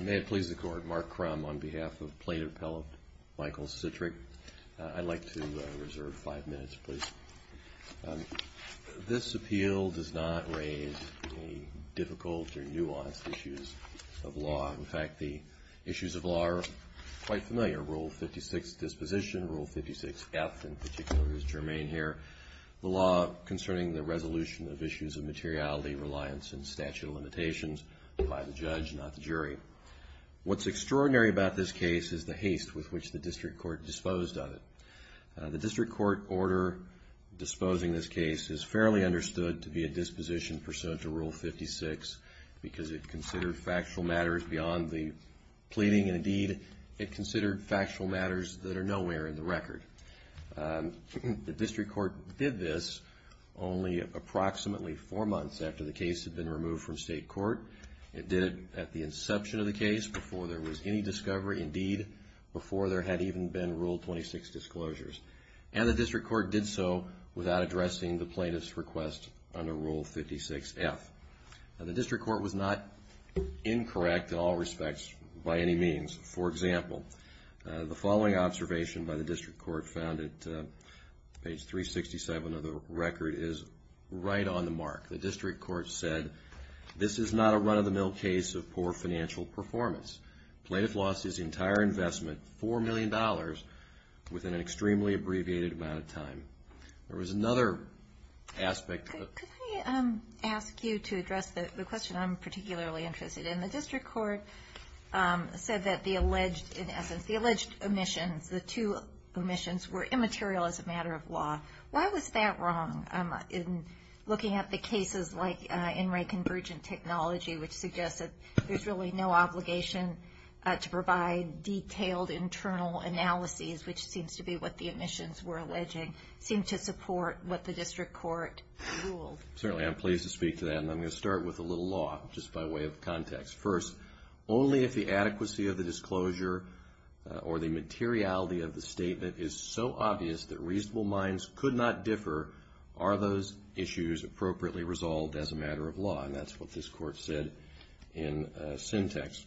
May it please the Court, Mark Crum on behalf of Plaintiff Appellate Michael Citrick. I'd like to reserve five minutes, please. This appeal does not raise any difficult or nuanced issues of law. In fact, the issues of law are quite familiar. Rule 56 disposition, Rule 56F in particular is germane here. The law concerning the resolution of issues of materiality, reliance and statute of limitations by the judge, not the jury. What's extraordinary about this case is the haste with which the district court disposed of it. The district court order disposing this case is fairly understood to be a disposition pursuant to Rule 56 because it considered factual matters beyond the pleading and indeed it considered factual matters that are nowhere in the record. The district court did this only approximately four months after the case had been removed from state court. It did it at the inception of the case before there was any discovery indeed, before there had even been Rule 26 disclosures. And the district court did so without addressing the plaintiff's request under Rule 56F. The district court was not incorrect in all respects by any means. For example, the following observation by the district court found at page 367 of the record is right on the mark. The district court said, this is not a run-of-the-mill case of poor financial performance. The plaintiff lost his entire investment, $4 million, within an extremely abbreviated amount of time. There was another aspect. Could I ask you to address the question I'm particularly interested in? The district court said that the alleged, in essence, the alleged omissions, the two omissions, were immaterial as a matter of law. Why was that wrong in looking at the cases like In Re Convergent Technology, which suggests that there's really no obligation to provide detailed internal analyses, which seems to be what the omissions were alleging, seem to support what the district court ruled? Certainly, I'm pleased to speak to that. And I'm going to start with a little law, just by way of context. First, only if the adequacy of the disclosure or the materiality of the statement is so obvious that reasonable minds could not differ, are those issues appropriately resolved as a matter of law? And that's what this court said in syntax.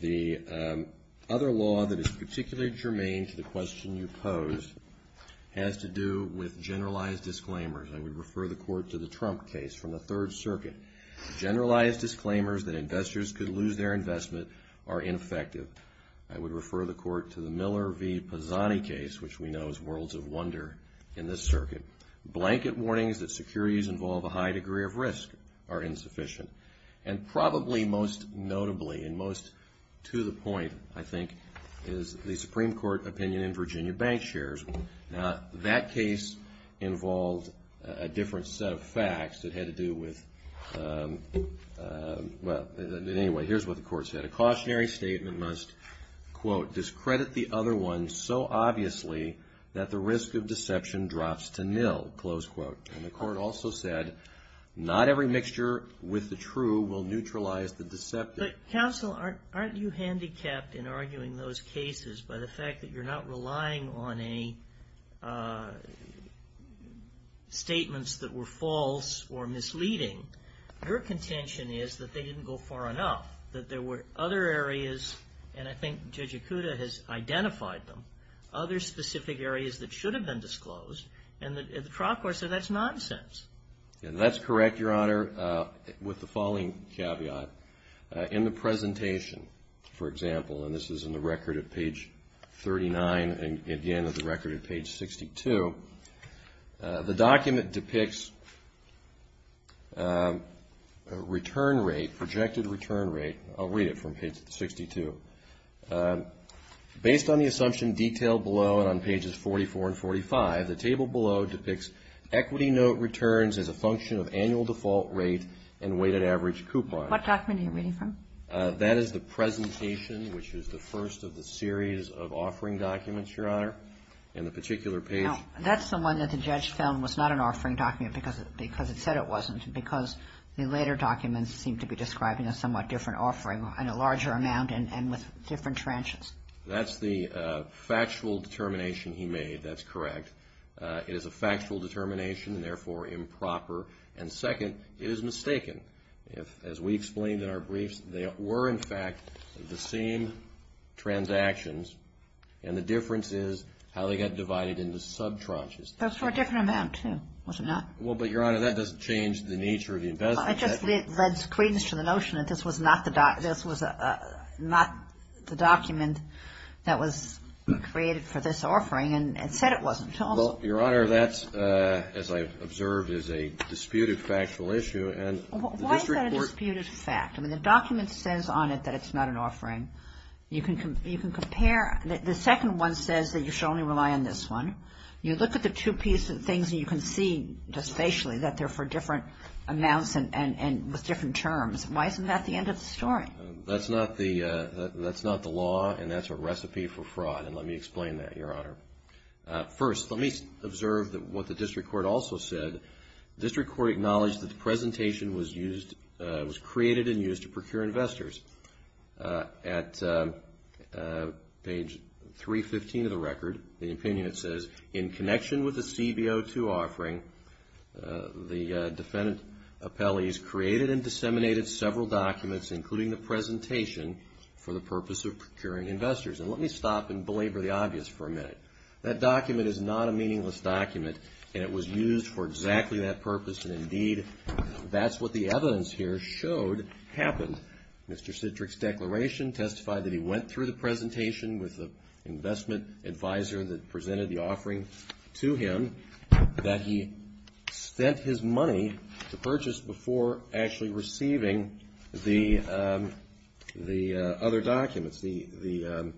The other law that is particularly germane to the question you posed has to do with generalized disclaimers. I would refer the court to the Trump case from the Third Circuit. Generalized disclaimers that investors could lose their investment are ineffective. I would refer the court to the Miller v. Pisani case, which we know is worlds of wonder in this circuit. Blanket warnings that securities involve a high degree of risk are insufficient. And probably most notably and most to the point, I think, is the Supreme Court opinion in Virginia bank shares. Now, that case involved a different set of facts that had to do with, well, anyway, here's what the court said. The cautionary statement must, quote, discredit the other one so obviously that the risk of deception drops to nil, close quote. And the court also said, not every mixture with the true will neutralize the deceptive. But counsel, aren't you handicapped in arguing those cases by the fact that you're not relying on statements that were false or misleading? Your contention is that they didn't go far enough, that there were other areas, and I think Judge Ikuda has identified them, other specific areas that should have been disclosed. And the trial court said that's nonsense. And that's correct, Your Honor, with the following caveat. In the presentation, for example, and this is in the record at page 39 and again at the record at page 62, the document depicts a return rate, projected return rate. I'll read it from page 62. Based on the assumption detailed below and on pages 44 and 45, the table below depicts equity note returns as a function of annual default rate and weighted average coupon. What document are you reading from? That is the presentation, which is the first of the series of offering documents, Your Honor. Now, that's the one that the judge found was not an offering document because it said it wasn't, because the later documents seem to be describing a somewhat different offering in a larger amount and with different tranches. That's the factual determination he made. That's correct. It is a factual determination and therefore improper. And second, it is mistaken. As we explained in our briefs, they were, in fact, the same transactions, and the difference is how they got divided into sub-tranches. Those were a different amount, too, was it not? Well, but, Your Honor, that doesn't change the nature of the investment. It just leads credence to the notion that this was not the document that was created for this offering and said it wasn't. Well, Your Honor, that's, as I've observed, is a disputed factual issue. Why is that a disputed fact? I mean, the document says on it that it's not an offering. You can compare. The second one says that you should only rely on this one. You look at the two pieces of things and you can see just facially that they're for different amounts and with different terms. Why isn't that the end of the story? That's not the law, and that's a recipe for fraud, and let me explain that, Your Honor. First, let me observe what the district court also said. The district court acknowledged that the presentation was created and used to procure investors. At page 315 of the record, the opinion, it says, in connection with the CBO2 offering, the defendant appellees created and disseminated several documents, including the presentation, for the purpose of procuring investors. And let me stop and belabor the obvious for a minute. That document is not a meaningless document, and it was used for exactly that purpose, and indeed, that's what the evidence here showed happened. Mr. Citrick's declaration testified that he went through the presentation with the investment advisor that presented the offering to him, that he spent his money to purchase before actually receiving the other documents. The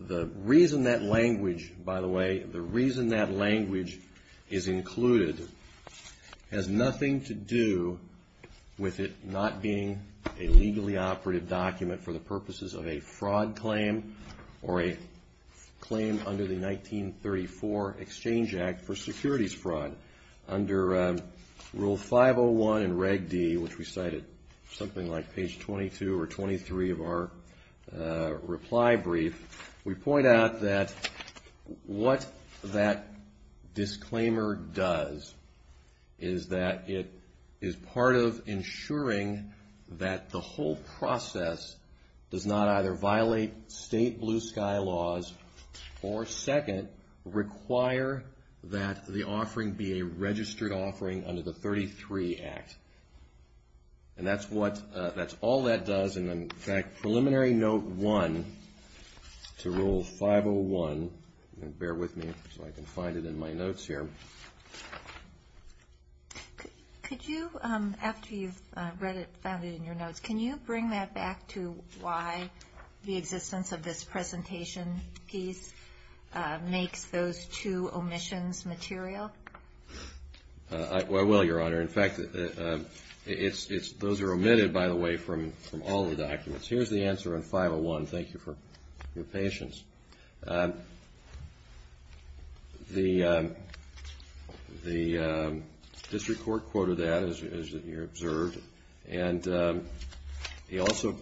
reason that language, by the way, the reason that language is included has nothing to do with it not being a legally operative document for the purposes of a fraud claim or a claim under the 1934 Exchange Act for securities fraud. Under Rule 501 in Reg D, which we cite at something like page 22 or 23 of our reply brief, we point out that what that disclaimer does is that it is part of ensuring that the whole process does not either violate state blue sky laws or, second, require that the offering be a registered offering under the 33 Act. And that's what, that's all that does. And in fact, Preliminary Note 1 to Rule 501, bear with me so I can find it in my notes here. Could you, after you've read it, found it in your notes, can you bring that back to why the existence of this presentation piece makes those two omissions material? I will, Your Honor. In fact, those are omitted, by the way, from all the documents. Here's the answer in 501. Thank you for your patience. The district court quoted that, as you observed, and he also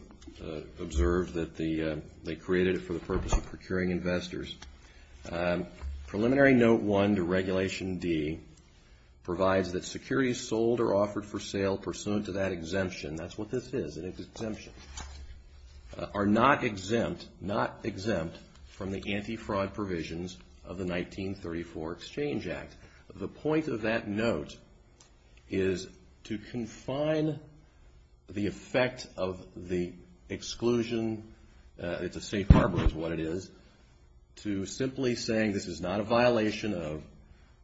observed that they created it for the purpose of procuring investors. Preliminary Note 1 to Regulation D provides that securities sold or offered for sale pursuant to that exemption, that's what this is, an exemption, are not exempt, not exempt from the anti-fraud provisions of the 1934 Exchange Act. The point of that note is to confine the effect of the exclusion, it's a safe harbor is what it is, to simply saying this is not a violation of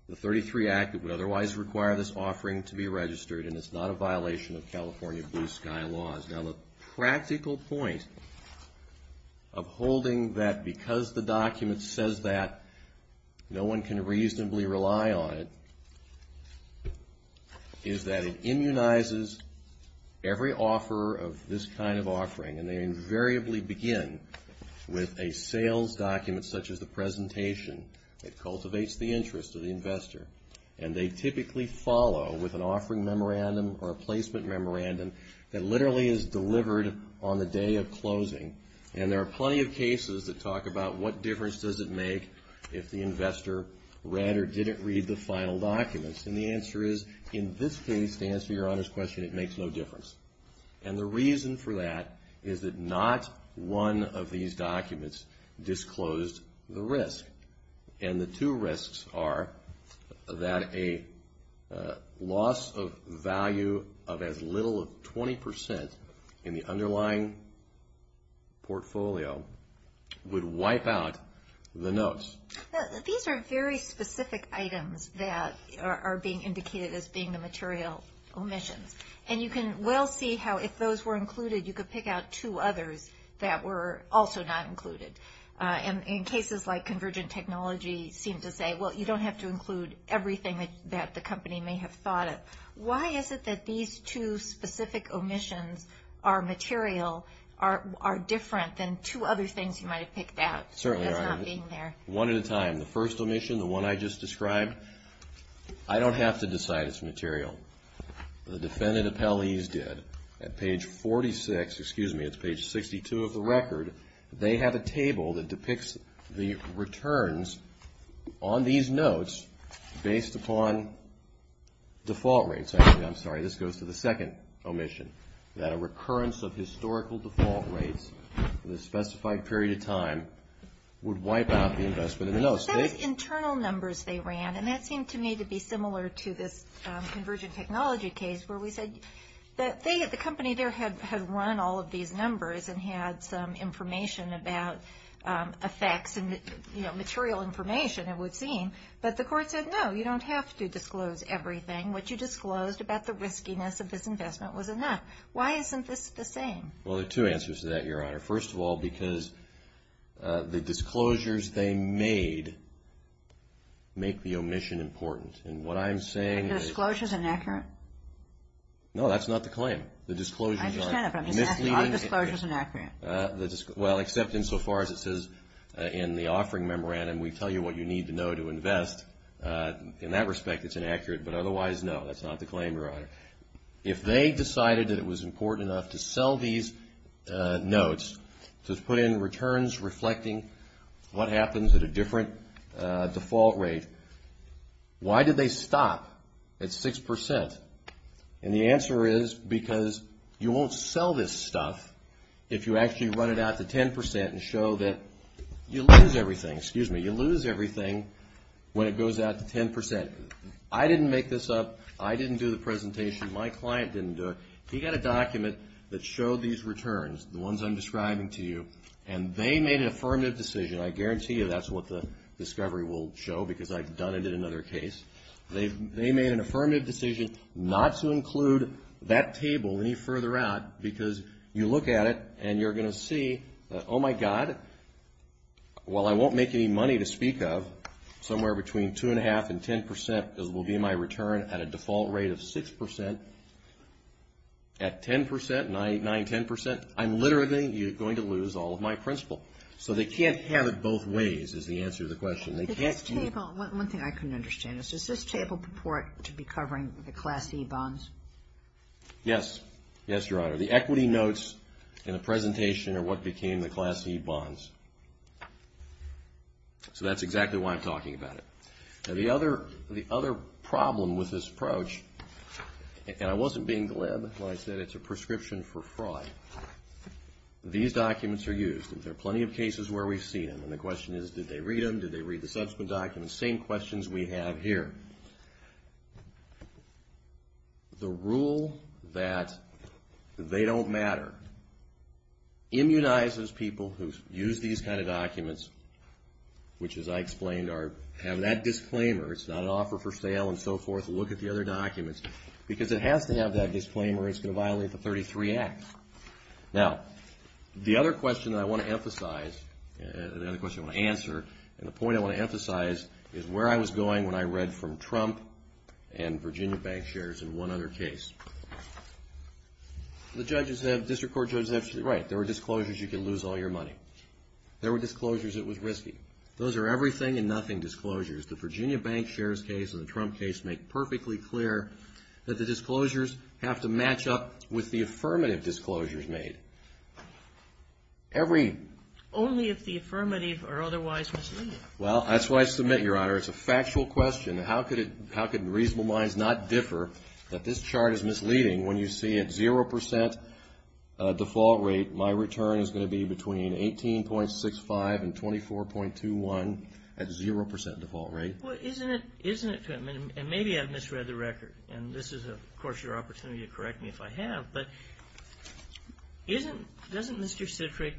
the 33 Act that would otherwise require this offering to be registered and it's not a violation of California blue sky laws. Now, the practical point of holding that because the document says that, no one can reasonably rely on it, is that it immunizes every offeror of this kind of offering and they invariably begin with a sales document such as the presentation. It cultivates the interest of the investor. And they typically follow with an offering memorandum or a placement memorandum that literally is delivered on the day of closing. And there are plenty of cases that talk about what difference does it make if the investor read or didn't read the final documents. And the answer is, in this case, to answer your Honor's question, it makes no difference. And the reason for that is that not one of these documents disclosed the risk. And the two risks are that a loss of value of as little as 20% in the underlying portfolio would wipe out the notes. These are very specific items that are being indicated as being the material omissions. And you can well see how if those were included, you could pick out two others that were also not included. And in cases like convergent technology seem to say, well, you don't have to include everything that the company may have thought of. Why is it that these two specific omissions are material, are different than two other things you might have picked out as not being there? One at a time. The first omission, the one I just described, I don't have to decide it's material. The defendant appellees did. At page 46, excuse me, it's page 62 of the record, they have a table that depicts the returns on these notes based upon default rates. I'm sorry, this goes to the second omission, that a recurrence of historical default rates with a specified period of time would wipe out the investment in the notes. Those internal numbers they ran, and that seemed to me to be similar to this convergent technology case where we said that the company there had run all of these numbers and had some information about effects and material information, it would seem. But the court said, no, you don't have to disclose everything. What you disclosed about the riskiness of this investment was enough. Why isn't this the same? Well, there are two answers to that, Your Honor. First of all, because the disclosures they made make the omission important. And what I'm saying is... Are the disclosures inaccurate? No, that's not the claim. The disclosures are misleading. I understand that, but I'm just asking, are the disclosures inaccurate? Well, except insofar as it says in the offering memorandum, we tell you what you need to know to invest. In that respect, it's inaccurate. But otherwise, no, that's not the claim, Your Honor. If they decided that it was important enough to sell these notes, to put in returns reflecting what happens at a different default rate, why did they stop at 6%? And the answer is because you won't sell this stuff if you actually run it out to 10% and show that you lose everything. Excuse me, you lose everything when it goes out to 10%. I didn't make this up. I didn't do the presentation. My client didn't do it. He got a document that showed these returns, the ones I'm describing to you, and they made an affirmative decision. I guarantee you that's what the discovery will show because I've done it in another case. They made an affirmative decision not to include that table any further out because you look at it, and you're going to see, oh, my God, while I won't make any money to speak of, somewhere between 2.5% and 10% will be my return at a default rate of 6%. At 10%, 9%, 10%, I'm literally going to lose all of my principal. So they can't have it both ways is the answer to the question. One thing I couldn't understand is, does this table purport to be covering the Class E bonds? Yes. Yes, Your Honor. The equity notes in the presentation are what became the Class E bonds. So that's exactly why I'm talking about it. Now, the other problem with this approach, and I wasn't being glib when I said it's a prescription for fraud, these documents are used, and there are plenty of cases where we've seen them, and the question is, did they read them? Did they read the subsequent documents? Same questions we have here. The rule that they don't matter immunizes people who use these kind of documents, which, as I explained, have that disclaimer. It's not an offer for sale and so forth. Look at the other documents because it has to have that disclaimer. It's going to violate the 33-X. Now, the other question that I want to emphasize, the other question I want to answer, and the point I want to emphasize is where I was going when I read from Trump and Virginia Bank shares in one other case. The judges have, district court judges have, right, there were disclosures you could lose all your money. There were disclosures it was risky. Those are everything and nothing disclosures. The Virginia Bank shares case and the Trump case make perfectly clear that the disclosures have to match up with the affirmative disclosures made. Only if the affirmative are otherwise misleading. Well, that's why I submit, Your Honor, it's a factual question. How could reasonable minds not differ that this chart is misleading when you see at 0% default rate, my return is going to be between 18.65 and 24.21 at 0% default rate? Well, isn't it, and maybe I've misread the record, and this is, of course, your opportunity to correct me if I have, but doesn't Mr. Citrick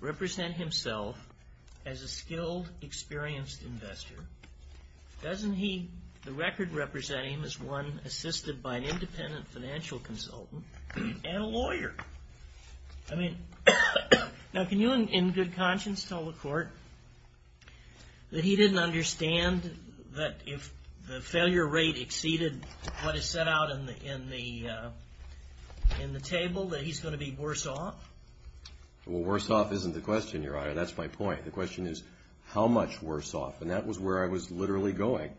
represent himself as a skilled, experienced investor? Doesn't the record represent him as one assisted by an independent financial consultant and a lawyer? I mean, now can you in good conscience tell the court that he didn't understand that if the failure rate exceeded what is set out in the table, that he's going to be worse off? Well, worse off isn't the question, Your Honor. That's my point. The question is how much worse off, and that was where I was literally going.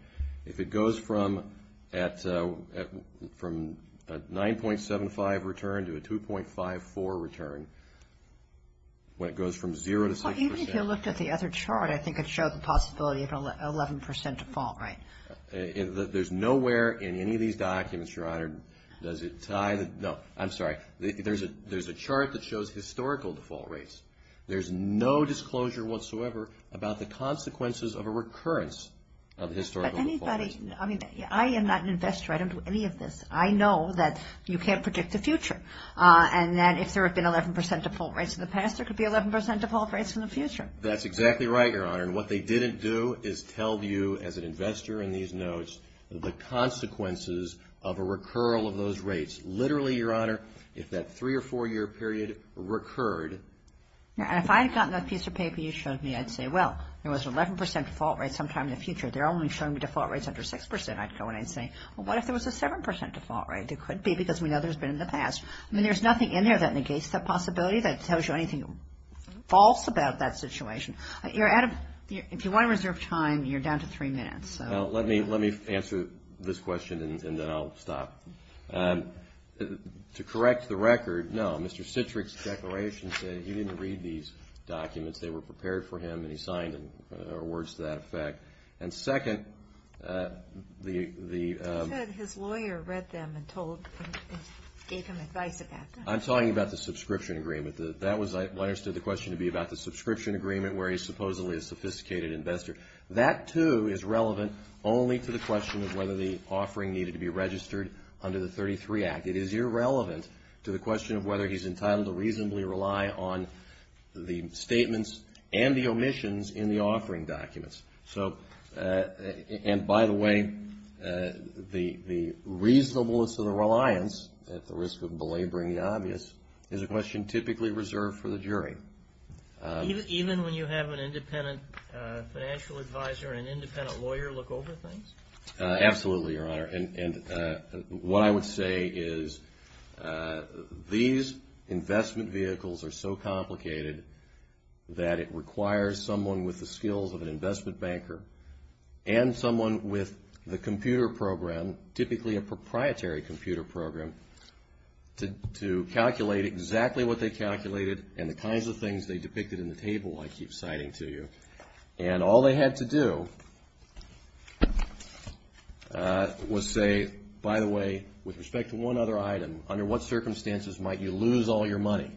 If it goes from a 9.75 return to a 2.54 return, when it goes from 0% to 6% If you looked at the other chart, I think it showed the possibility of an 11% default rate. There's nowhere in any of these documents, Your Honor, does it tie the, no, I'm sorry. There's a chart that shows historical default rates. There's no disclosure whatsoever about the consequences of a recurrence of historical default rates. But anybody, I mean, I am not an investor. I don't do any of this. I know that you can't predict the future, and that if there had been 11% default rates in the past, there could be 11% default rates in the future. That's exactly right, Your Honor. And what they didn't do is tell you, as an investor in these notes, the consequences of a recurrence of those rates. Literally, Your Honor, if that three- or four-year period recurred. And if I had gotten that piece of paper you showed me, I'd say, well, there was an 11% default rate sometime in the future. They're only showing me default rates under 6%. I'd go in and say, well, what if there was a 7% default rate? There could be because we know there's been in the past. I mean, there's nothing in there that negates that possibility, that tells you anything false about that situation. Adam, if you want to reserve time, you're down to three minutes. Let me answer this question, and then I'll stop. To correct the record, no, Mr. Citrick's declaration said he didn't read these documents. They were prepared for him, and he signed them, or words to that effect. And second, the – I'm talking about the subscription agreement. That was what I understood the question to be about, the subscription agreement, where he's supposedly a sophisticated investor. That, too, is relevant only to the question of whether the offering needed to be registered under the 33 Act. It is irrelevant to the question of whether he's entitled to reasonably rely on the statements and the omissions in the offering documents. And, by the way, the reasonableness of the reliance, at the risk of belaboring the obvious, is a question typically reserved for the jury. Even when you have an independent financial advisor and independent lawyer look over things? Absolutely, Your Honor. And what I would say is these investment vehicles are so complicated that it requires someone with the skills of an investment banker and someone with the computer program, typically a proprietary computer program, to calculate exactly what they calculated and the kinds of things they depicted in the table I keep citing to you. And all they had to do was say, by the way, with respect to one other item, under what circumstances might you lose all your money?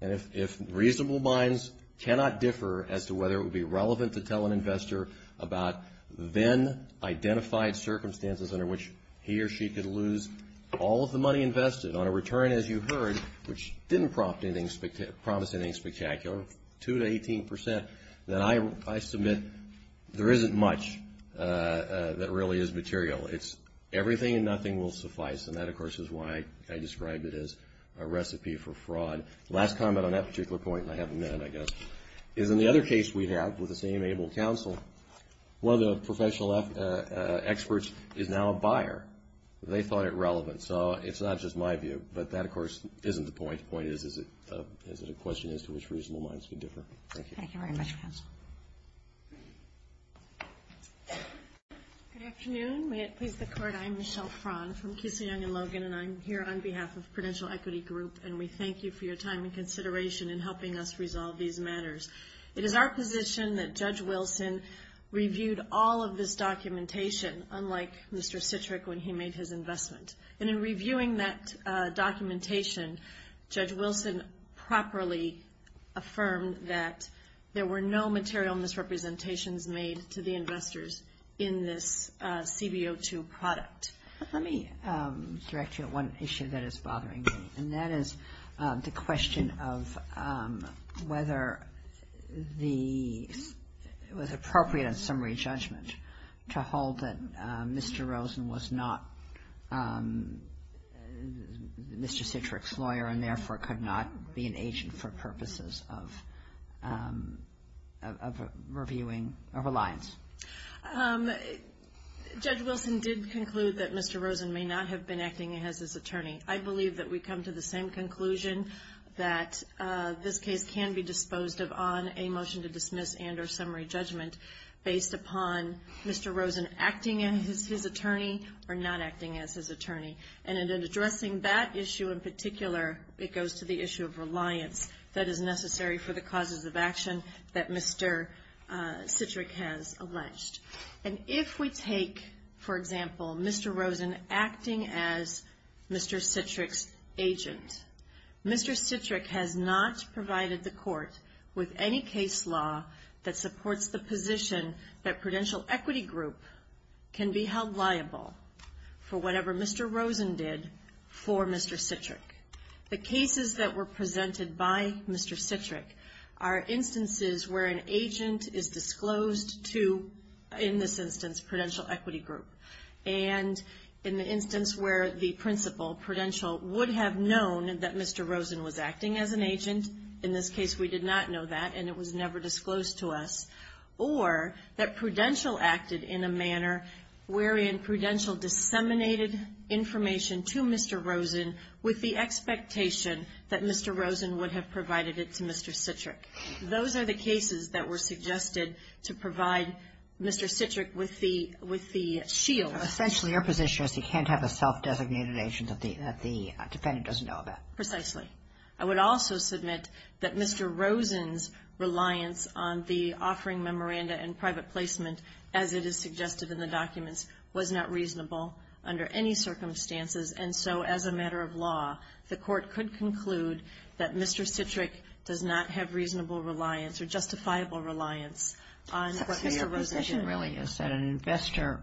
And if reasonable minds cannot differ as to whether it would be relevant to tell an investor about then-identified circumstances under which he or she could lose all of the money invested on a return, as you heard, which didn't promise anything spectacular, 2 to 18 percent, then I submit there isn't much that really is material. It's everything and nothing will suffice. And that, of course, is why I described it as a recipe for fraud. Last comment on that particular point, and I have a minute, I guess, is in the other case we have with the same able counsel, one of the professional experts is now a buyer. They thought it relevant. So it's not just my view, but that, of course, isn't the point. The point is, is it a question as to which reasonable minds could differ? Thank you. Thank you very much, counsel. Good afternoon. May it please the Court. I'm Michelle Frahn from Keesey, Young & Logan, and I'm here on behalf of Prudential Equity Group, and we thank you for your time and consideration in helping us resolve these matters. It is our position that Judge Wilson reviewed all of this documentation, unlike Mr. Citrick when he made his investment. And in reviewing that documentation, Judge Wilson properly affirmed that there were no material misrepresentations made to the investors in this CBO2 product. Let me direct you to one issue that is bothering me, and that is the question of whether it was appropriate in summary judgment to hold that Mr. Rosen was not Mr. Citrick's lawyer and therefore could not be an agent for purposes of reviewing or reliance. Judge Wilson did conclude that Mr. Rosen may not have been acting as his attorney. I believe that we come to the same conclusion that this case can be disposed of on a motion to dismiss and or summary judgment based upon Mr. Rosen acting as his attorney or not acting as his attorney. And in addressing that issue in particular, it goes to the issue of reliance that is necessary for the causes of action that Mr. Citrick has alleged. And if we take, for example, Mr. Rosen acting as Mr. Citrick's agent, Mr. Citrick has not provided the court with any case law that supports the position that Prudential Equity Group can be held liable for whatever Mr. Rosen did for Mr. Citrick. The cases that were presented by Mr. Citrick are instances where an agent is disclosed to, in this instance, Prudential Equity Group. And in the instance where the principal, Prudential, would have known that Mr. Rosen was acting as an agent, in this case we did not know that and it was never disclosed to us, or that Prudential acted in a manner wherein Prudential disseminated information to Mr. Rosen with the expectation that Mr. Rosen would have provided it to Mr. Citrick. Those are the cases that were suggested to provide Mr. Citrick with the shield. Essentially, your position is he can't have a self-designated agent that the defendant doesn't know about. Precisely. I would also submit that Mr. Rosen's reliance on the offering memoranda and private placement, as it is suggested in the documents, was not reasonable under any circumstances. And so, as a matter of law, the court could conclude that Mr. Citrick does not have reasonable reliance or justifiable reliance on what Mr. Rosen did. Your position really is that an investor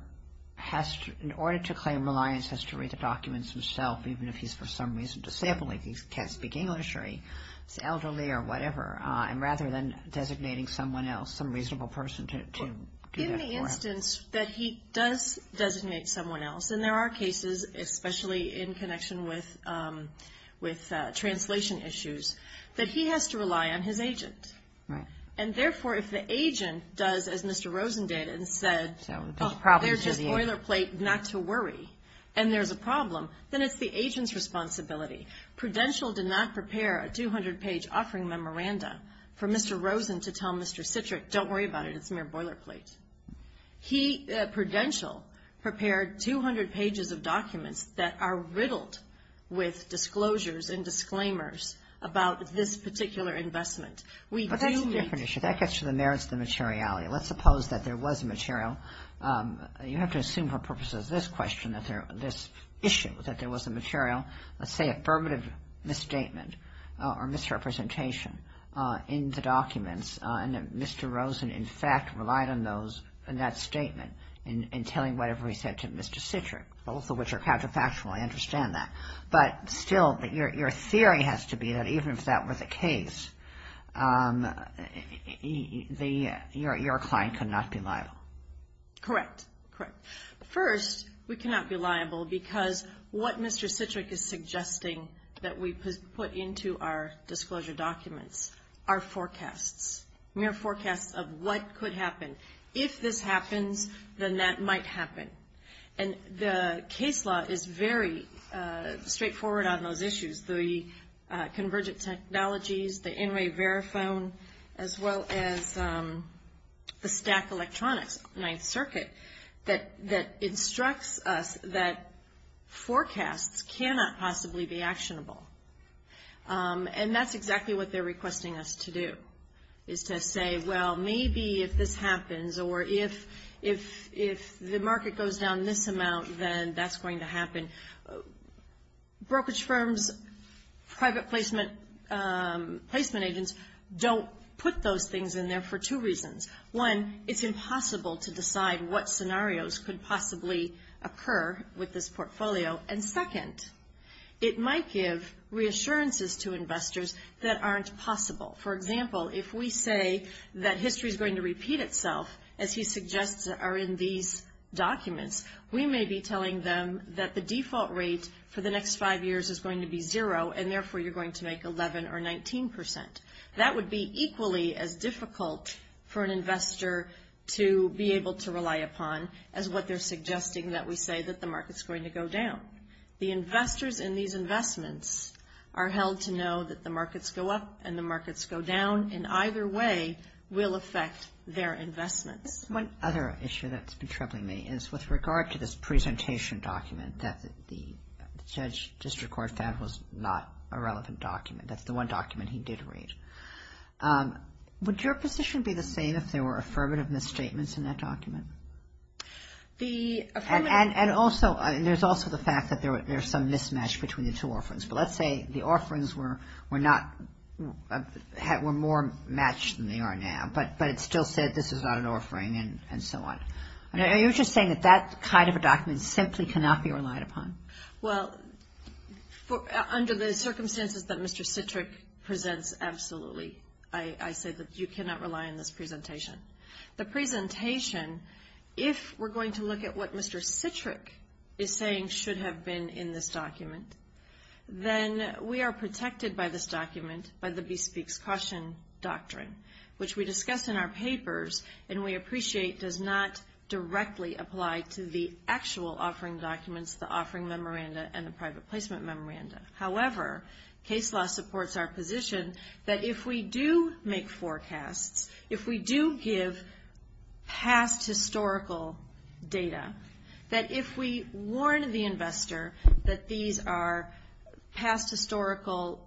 has to, in order to claim reliance, has to read the documents himself, even if he's, for some reason, disabling, he can't speak English or he's elderly or whatever, and rather than designating someone else, some reasonable person to do that for him. In the instance that he does designate someone else, and there are cases, especially in connection with translation issues, that he has to rely on his agent. Right. And therefore, if the agent does, as Mr. Rosen did and said, There's just boilerplate not to worry, and there's a problem, then it's the agent's responsibility. Prudential did not prepare a 200-page offering memoranda for Mr. Rosen to tell Mr. Citrick, don't worry about it, it's mere boilerplate. Prudential prepared 200 pages of documents that are riddled with disclosures and disclaimers about this particular investment. But that's a different issue. That gets to the merits of the materiality. Let's suppose that there was a material. You have to assume for purposes of this question, this issue, that there was a material, let's say affirmative misstatement or misrepresentation in the documents, and that Mr. Rosen, in fact, relied on that statement in telling whatever he said to Mr. Citrick, both of which are counterfactual, I understand that. But still, your theory has to be that even if that were the case, your client could not be liable. Correct. First, we cannot be liable because what Mr. Citrick is suggesting that we put into our disclosure documents are forecasts, mere forecasts of what could happen. If this happens, then that might happen. And the case law is very straightforward on those issues. The convergent technologies, the in-way verifone, as well as the stack electronics, Ninth Circuit, that instructs us that forecasts cannot possibly be actionable. And that's exactly what they're requesting us to do, is to say, well, maybe if this happens or if the market goes down this amount, then that's going to happen. Brokerage firms, private placement agents don't put those things in there for two reasons. One, it's impossible to decide what scenarios could possibly occur with this portfolio. And second, it might give reassurances to investors that aren't possible. For example, if we say that history is going to repeat itself, as he suggests are in these documents, we may be telling them that the default rate for the next five years is going to be zero, and therefore you're going to make 11% or 19%. That would be equally as difficult for an investor to be able to rely upon as what they're suggesting that we say that the market's going to go down. The investors in these investments are held to know that the markets go up and the markets go down in either way will affect their investments. One other issue that's been troubling me is with regard to this presentation document that the judge district court found was not a relevant document. That's the one document he did read. Would your position be the same if there were affirmative misstatements in that document? And also, there's also the fact that there's some mismatch between the two offerings. But let's say the offerings were more matched than they are now, but it still said this is not an offering and so on. Are you just saying that that kind of a document simply cannot be relied upon? Well, under the circumstances that Mr. Citrick presents, absolutely. I say that you cannot rely on this presentation. The presentation, if we're going to look at what Mr. Citrick is saying should have been in this document, then we are protected by this document, by the Bespeaks Caution Doctrine, which we discuss in our papers and we appreciate does not directly apply to the actual offering documents, the offering memoranda, and the private placement memoranda. However, case law supports our position that if we do make forecasts, if we do give past historical data, that if we warn the investor that these are past historical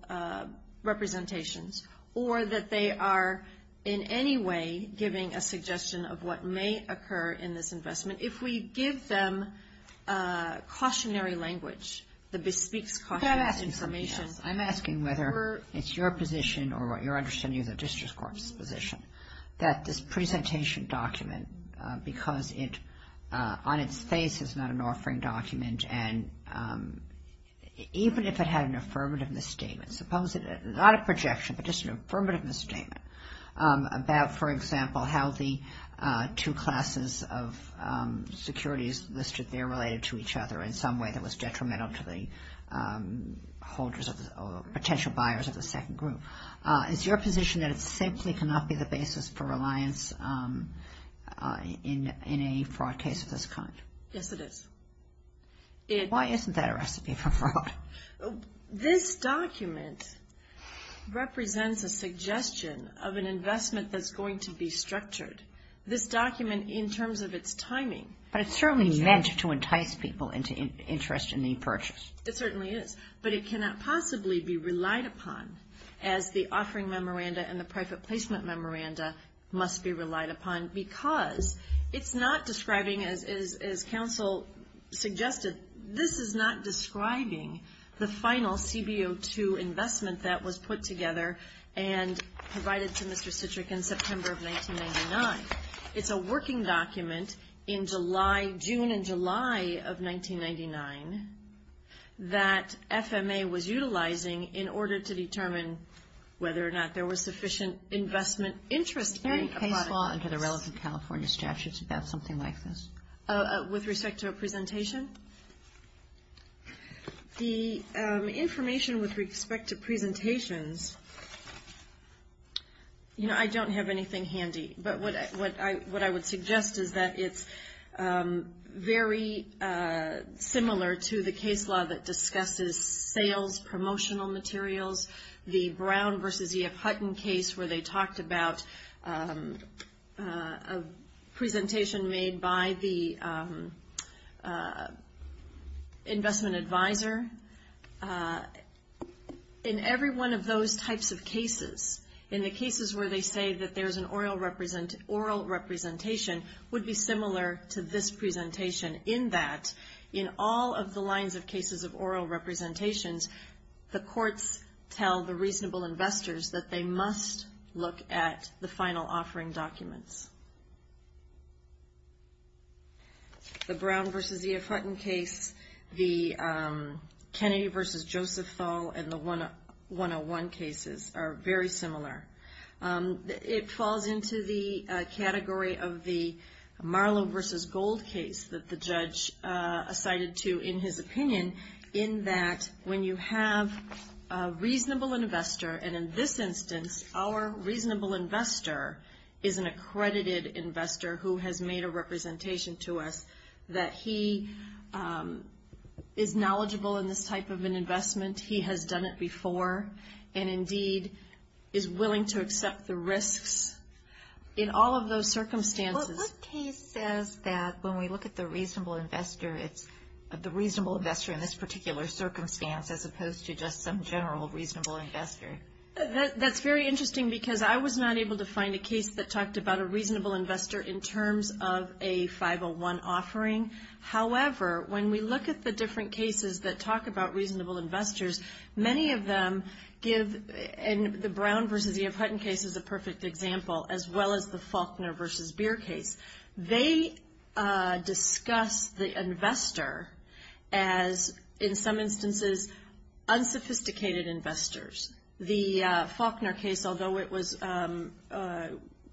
representations or that they are in any way giving a suggestion of what may occur in this investment, if we give them cautionary language, the Bespeaks Caution information. I'm asking whether it's your position or what you're understanding of the district court's position that this presentation document, because on its face it's not an offering document, and even if it had an affirmative misstatement, not a projection, but just an affirmative misstatement about, for example, how the two classes of securities listed there related to each other in some way that was detrimental to the potential buyers of the second group. Is your position that it simply cannot be the basis for reliance in a fraud case of this kind? Yes, it is. Why isn't that a recipe for fraud? This document represents a suggestion of an investment that's going to be structured. This document in terms of its timing. But it's certainly meant to entice people into interest in the purchase. It certainly is. But it cannot possibly be relied upon as the offering memoranda and the private placement memoranda must be relied upon, because it's not describing, as counsel suggested, this is not describing the final CBO2 investment that was put together and provided to Mr. Citrick in September of 1999. It's a working document in July, June and July of 1999, that FMA was utilizing in order to determine whether or not there was sufficient investment interest in a product like this. Is there any case law under the relevant California statutes about something like this? With respect to a presentation? The information with respect to presentations, you know, I don't have anything handy. But what I would suggest is that it's very similar to the case law that discusses sales promotional materials. The Brown v. E.F. Hutton case where they talked about a presentation made by the investment advisor. In every one of those types of cases, in the cases where they say that there's an oral representation, would be similar to this presentation, in that in all of the lines of cases of oral representations, the courts tell the reasonable investors that they must look at the final offering documents. The Brown v. E.F. Hutton case, the Kennedy v. Joseph Thal and the 101 cases are very similar. It falls into the category of the Marlowe v. Gold case that the judge cited to in his opinion, in that when you have a reasonable investor, and in this instance our reasonable investor is an accredited investor who has made a representation to us, that he is knowledgeable in this type of an investment. He has done it before and indeed is willing to accept the risks in all of those circumstances. What case says that when we look at the reasonable investor, it's the reasonable investor in this particular circumstance, as opposed to just some general reasonable investor? That's very interesting because I was not able to find a case that talked about a reasonable investor in terms of a 501 offering. However, when we look at the different cases that talk about reasonable investors, many of them give the Brown v. E.F. Hutton case as a perfect example, as well as the Faulkner v. Beer case. They discuss the investor as, in some instances, unsophisticated investors. The Faulkner case, although it was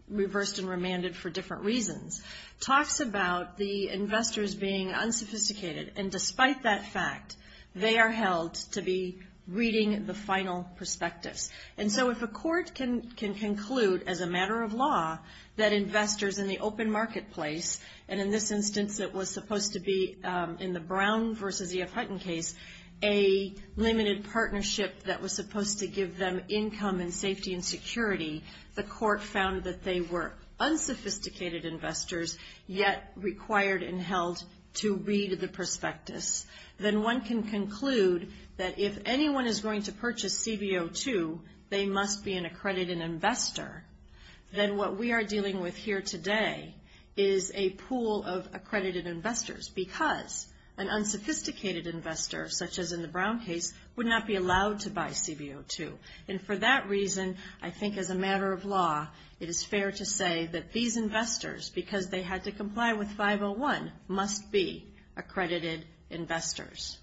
reversed and remanded for different reasons, talks about the investors being unsophisticated, and despite that fact they are held to be reading the final perspectives. And so if a court can conclude as a matter of law that investors in the open marketplace, and in this instance it was supposed to be in the Brown v. E.F. Hutton case, a limited partnership that was supposed to give them income and safety and security, the court found that they were unsophisticated investors, yet required and held to read the prospectus, then one can conclude that if anyone is going to purchase CBO2, they must be an accredited investor. Then what we are dealing with here today is a pool of accredited investors because an unsophisticated investor, such as in the Brown case, would not be allowed to buy CBO2. And for that reason, I think as a matter of law, it is fair to say that these investors, because they had to comply with 501, must be accredited investors.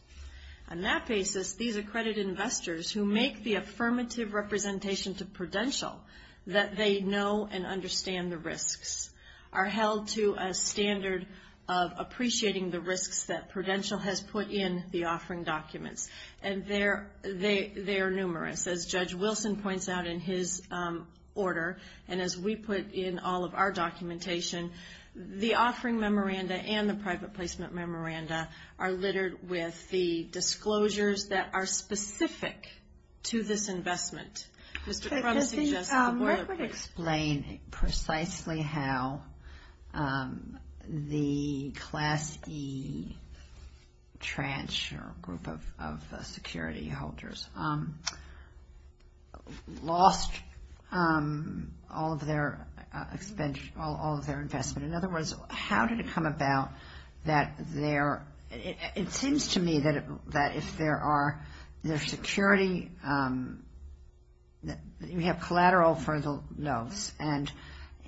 On that basis, these accredited investors, who make the affirmative representation to prudential, that they know and understand the risks, are held to a standard of appreciating the risks that prudential has put in the offering documents. And they are numerous. As Judge Wilson points out in his order, and as we put in all of our documentation, the offering memoranda and the private placement memoranda are littered with the disclosures that are specific to this investment. Could you explain precisely how the Class E tranche or group of security holders lost all of their investment? In other words, how did it come about that their, it seems to me that if there are, their security, we have collateral for the notes, and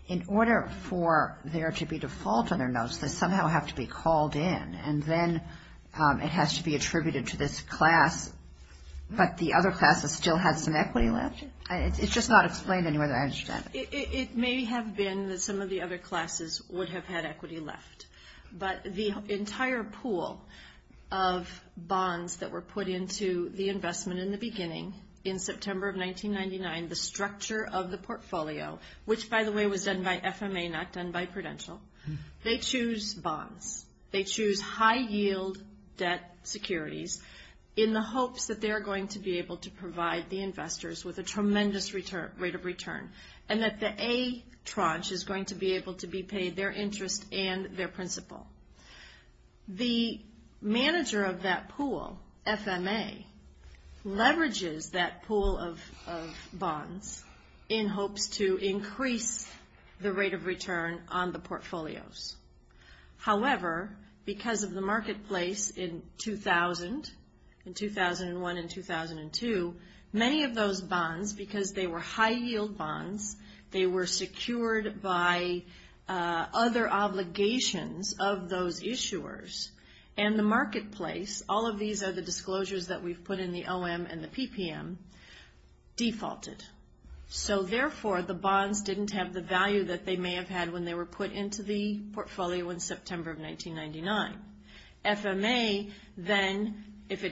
in order for there to be default on their notes, they somehow have to be called in, and then it has to be attributed to this class, but the other class has still had some equity left? It's just not explained any way that I understand it. It may have been that some of the other classes would have had equity left, but the entire pool of bonds that were put into the investment in the beginning, in September of 1999, the structure of the portfolio, which, by the way, was done by FMA, not done by prudential, they choose bonds. They choose high-yield debt securities in the hopes that they're going to be able to provide the investors with a tremendous rate of return, and that the A tranche is going to be able to be paid their interest and their principal. The manager of that pool, FMA, leverages that pool of bonds in hopes to increase the rate of return on the portfolios. However, because of the marketplace in 2000, in 2001 and 2002, many of those bonds, because they were high-yield bonds, they were secured by other obligations of those issuers, and the marketplace, all of these are the disclosures that we've put in the OM and the PPM, defaulted. So, therefore, the bonds didn't have the value that they may have had when they were put into the portfolio in September of 1999. FMA, then, if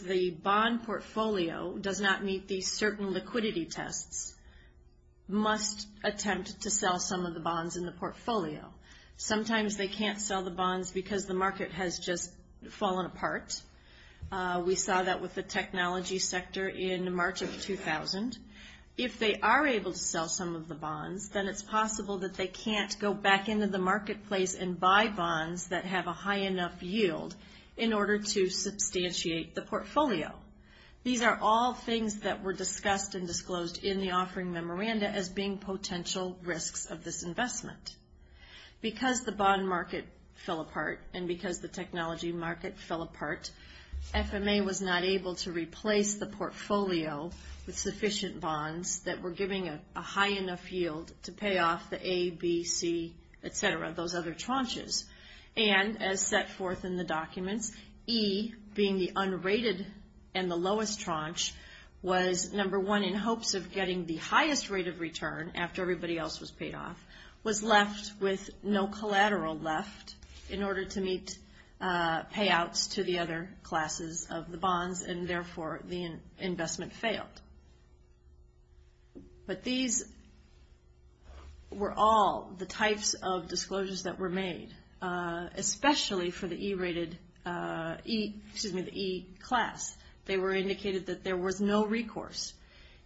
the bond portfolio does not meet these certain liquidity tests, must attempt to sell some of the bonds in the portfolio. Sometimes they can't sell the bonds because the market has just fallen apart. We saw that with the technology sector in March of 2000. If they are able to sell some of the bonds, then it's possible that they can't go back into the marketplace and buy bonds that have a high enough yield in order to substantiate the portfolio. These are all things that were discussed and disclosed in the offering memoranda as being potential risks of this investment. Because the bond market fell apart and because the technology market fell apart, FMA was not able to replace the portfolio with sufficient bonds that were giving a high enough yield to pay off the A, B, C, et cetera, those other tranches. And as set forth in the documents, E, being the unrated and the lowest tranche, was number one in hopes of getting the highest rate of return after everybody else was paid off, was left with no collateral left in order to meet payouts to the other classes of the bonds, and, therefore, the investment failed. But these were all the types of disclosures that were made, especially for the E rated, excuse me, the E class. They were indicated that there was no recourse.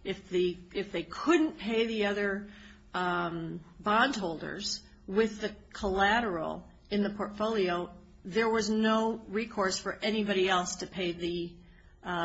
If they couldn't pay the other bond holders with the collateral in the portfolio, there was no recourse for anybody else to pay the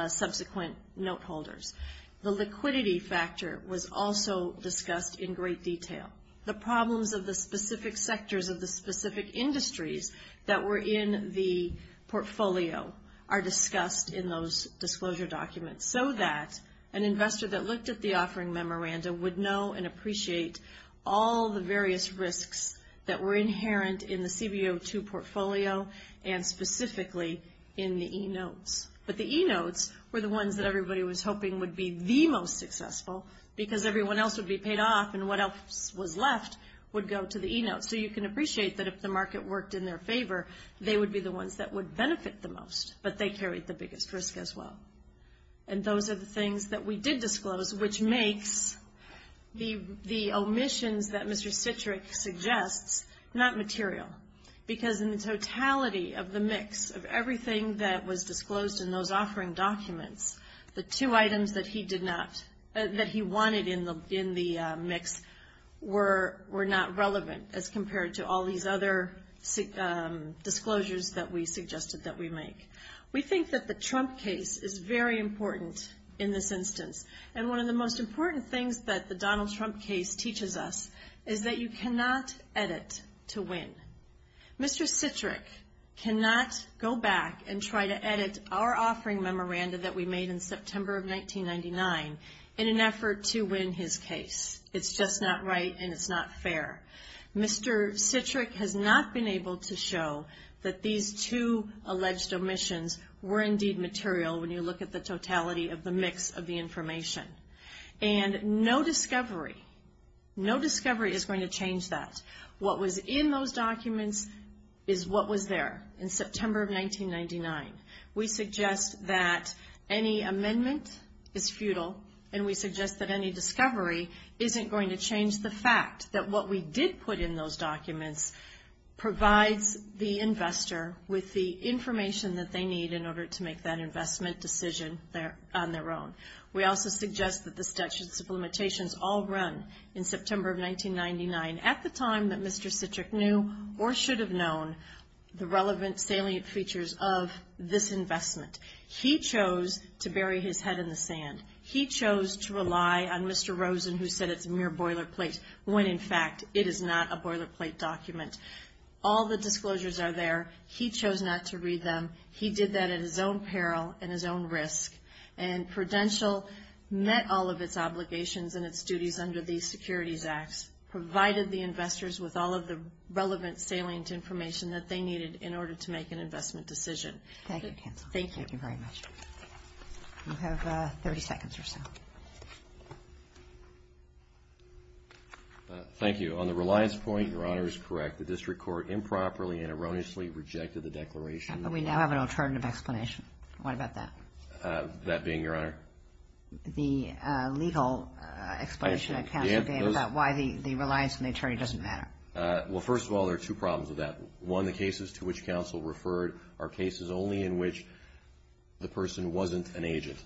subsequent note holders. The liquidity factor was also discussed in great detail. The problems of the specific sectors of the specific industries that were in the portfolio are discussed in those disclosure documents, so that an investor that looked at the offering memoranda would know and appreciate all the various risks that were inherent in the CBO2 portfolio and specifically in the E notes. But the E notes were the ones that everybody was hoping would be the most successful because everyone else would be paid off and what else was left would go to the E notes. So you can appreciate that if the market worked in their favor, they would be the ones that would benefit the most, but they carried the biggest risk as well. And those are the things that we did disclose, which makes the omissions that Mr. Citrick suggests not material, because in the totality of the mix of everything that was disclosed in those offering documents, the two items that he did not, that he wanted in the mix were not relevant as compared to all these other disclosures that we suggested that we make. We think that the Trump case is very important in this instance, and one of the most important things that the Donald Trump case teaches us is that you cannot edit to win. Mr. Citrick cannot go back and try to edit our offering memoranda that we made in September of 1999 in an effort to win his case. It's just not right and it's not fair. Mr. Citrick has not been able to show that these two alleged omissions were indeed material when you look at the totality of the mix of the information. And no discovery, no discovery is going to change that. What was in those documents is what was there in September of 1999. We suggest that any amendment is futile and we suggest that any discovery isn't going to change the fact that what we did put in those documents provides the investor with the information that they need in order to make that investment decision on their own. We also suggest that the Statutes of Limitations all run in September of 1999 at the time that Mr. Citrick knew or should have known the relevant salient features of this investment. He chose to bury his head in the sand. He chose to rely on Mr. Rosen who said it's a mere boilerplate when, in fact, it is not a boilerplate document. All the disclosures are there. He chose not to read them. He did that at his own peril and his own risk. And Prudential met all of its obligations and its duties under these Securities Acts, provided the investors with all of the relevant salient information that they needed in order to make an investment decision. Thank you. Thank you very much. You have 30 seconds or so. Thank you. On the reliance point, Your Honor is correct. The district court improperly and erroneously rejected the declaration. We now have an alternative explanation. What about that? That being, Your Honor? The legal explanation that counsel gave about why the reliance on the attorney doesn't matter. Well, first of all, there are two problems with that. One, the cases to which counsel referred are cases only in which the person wasn't an agent.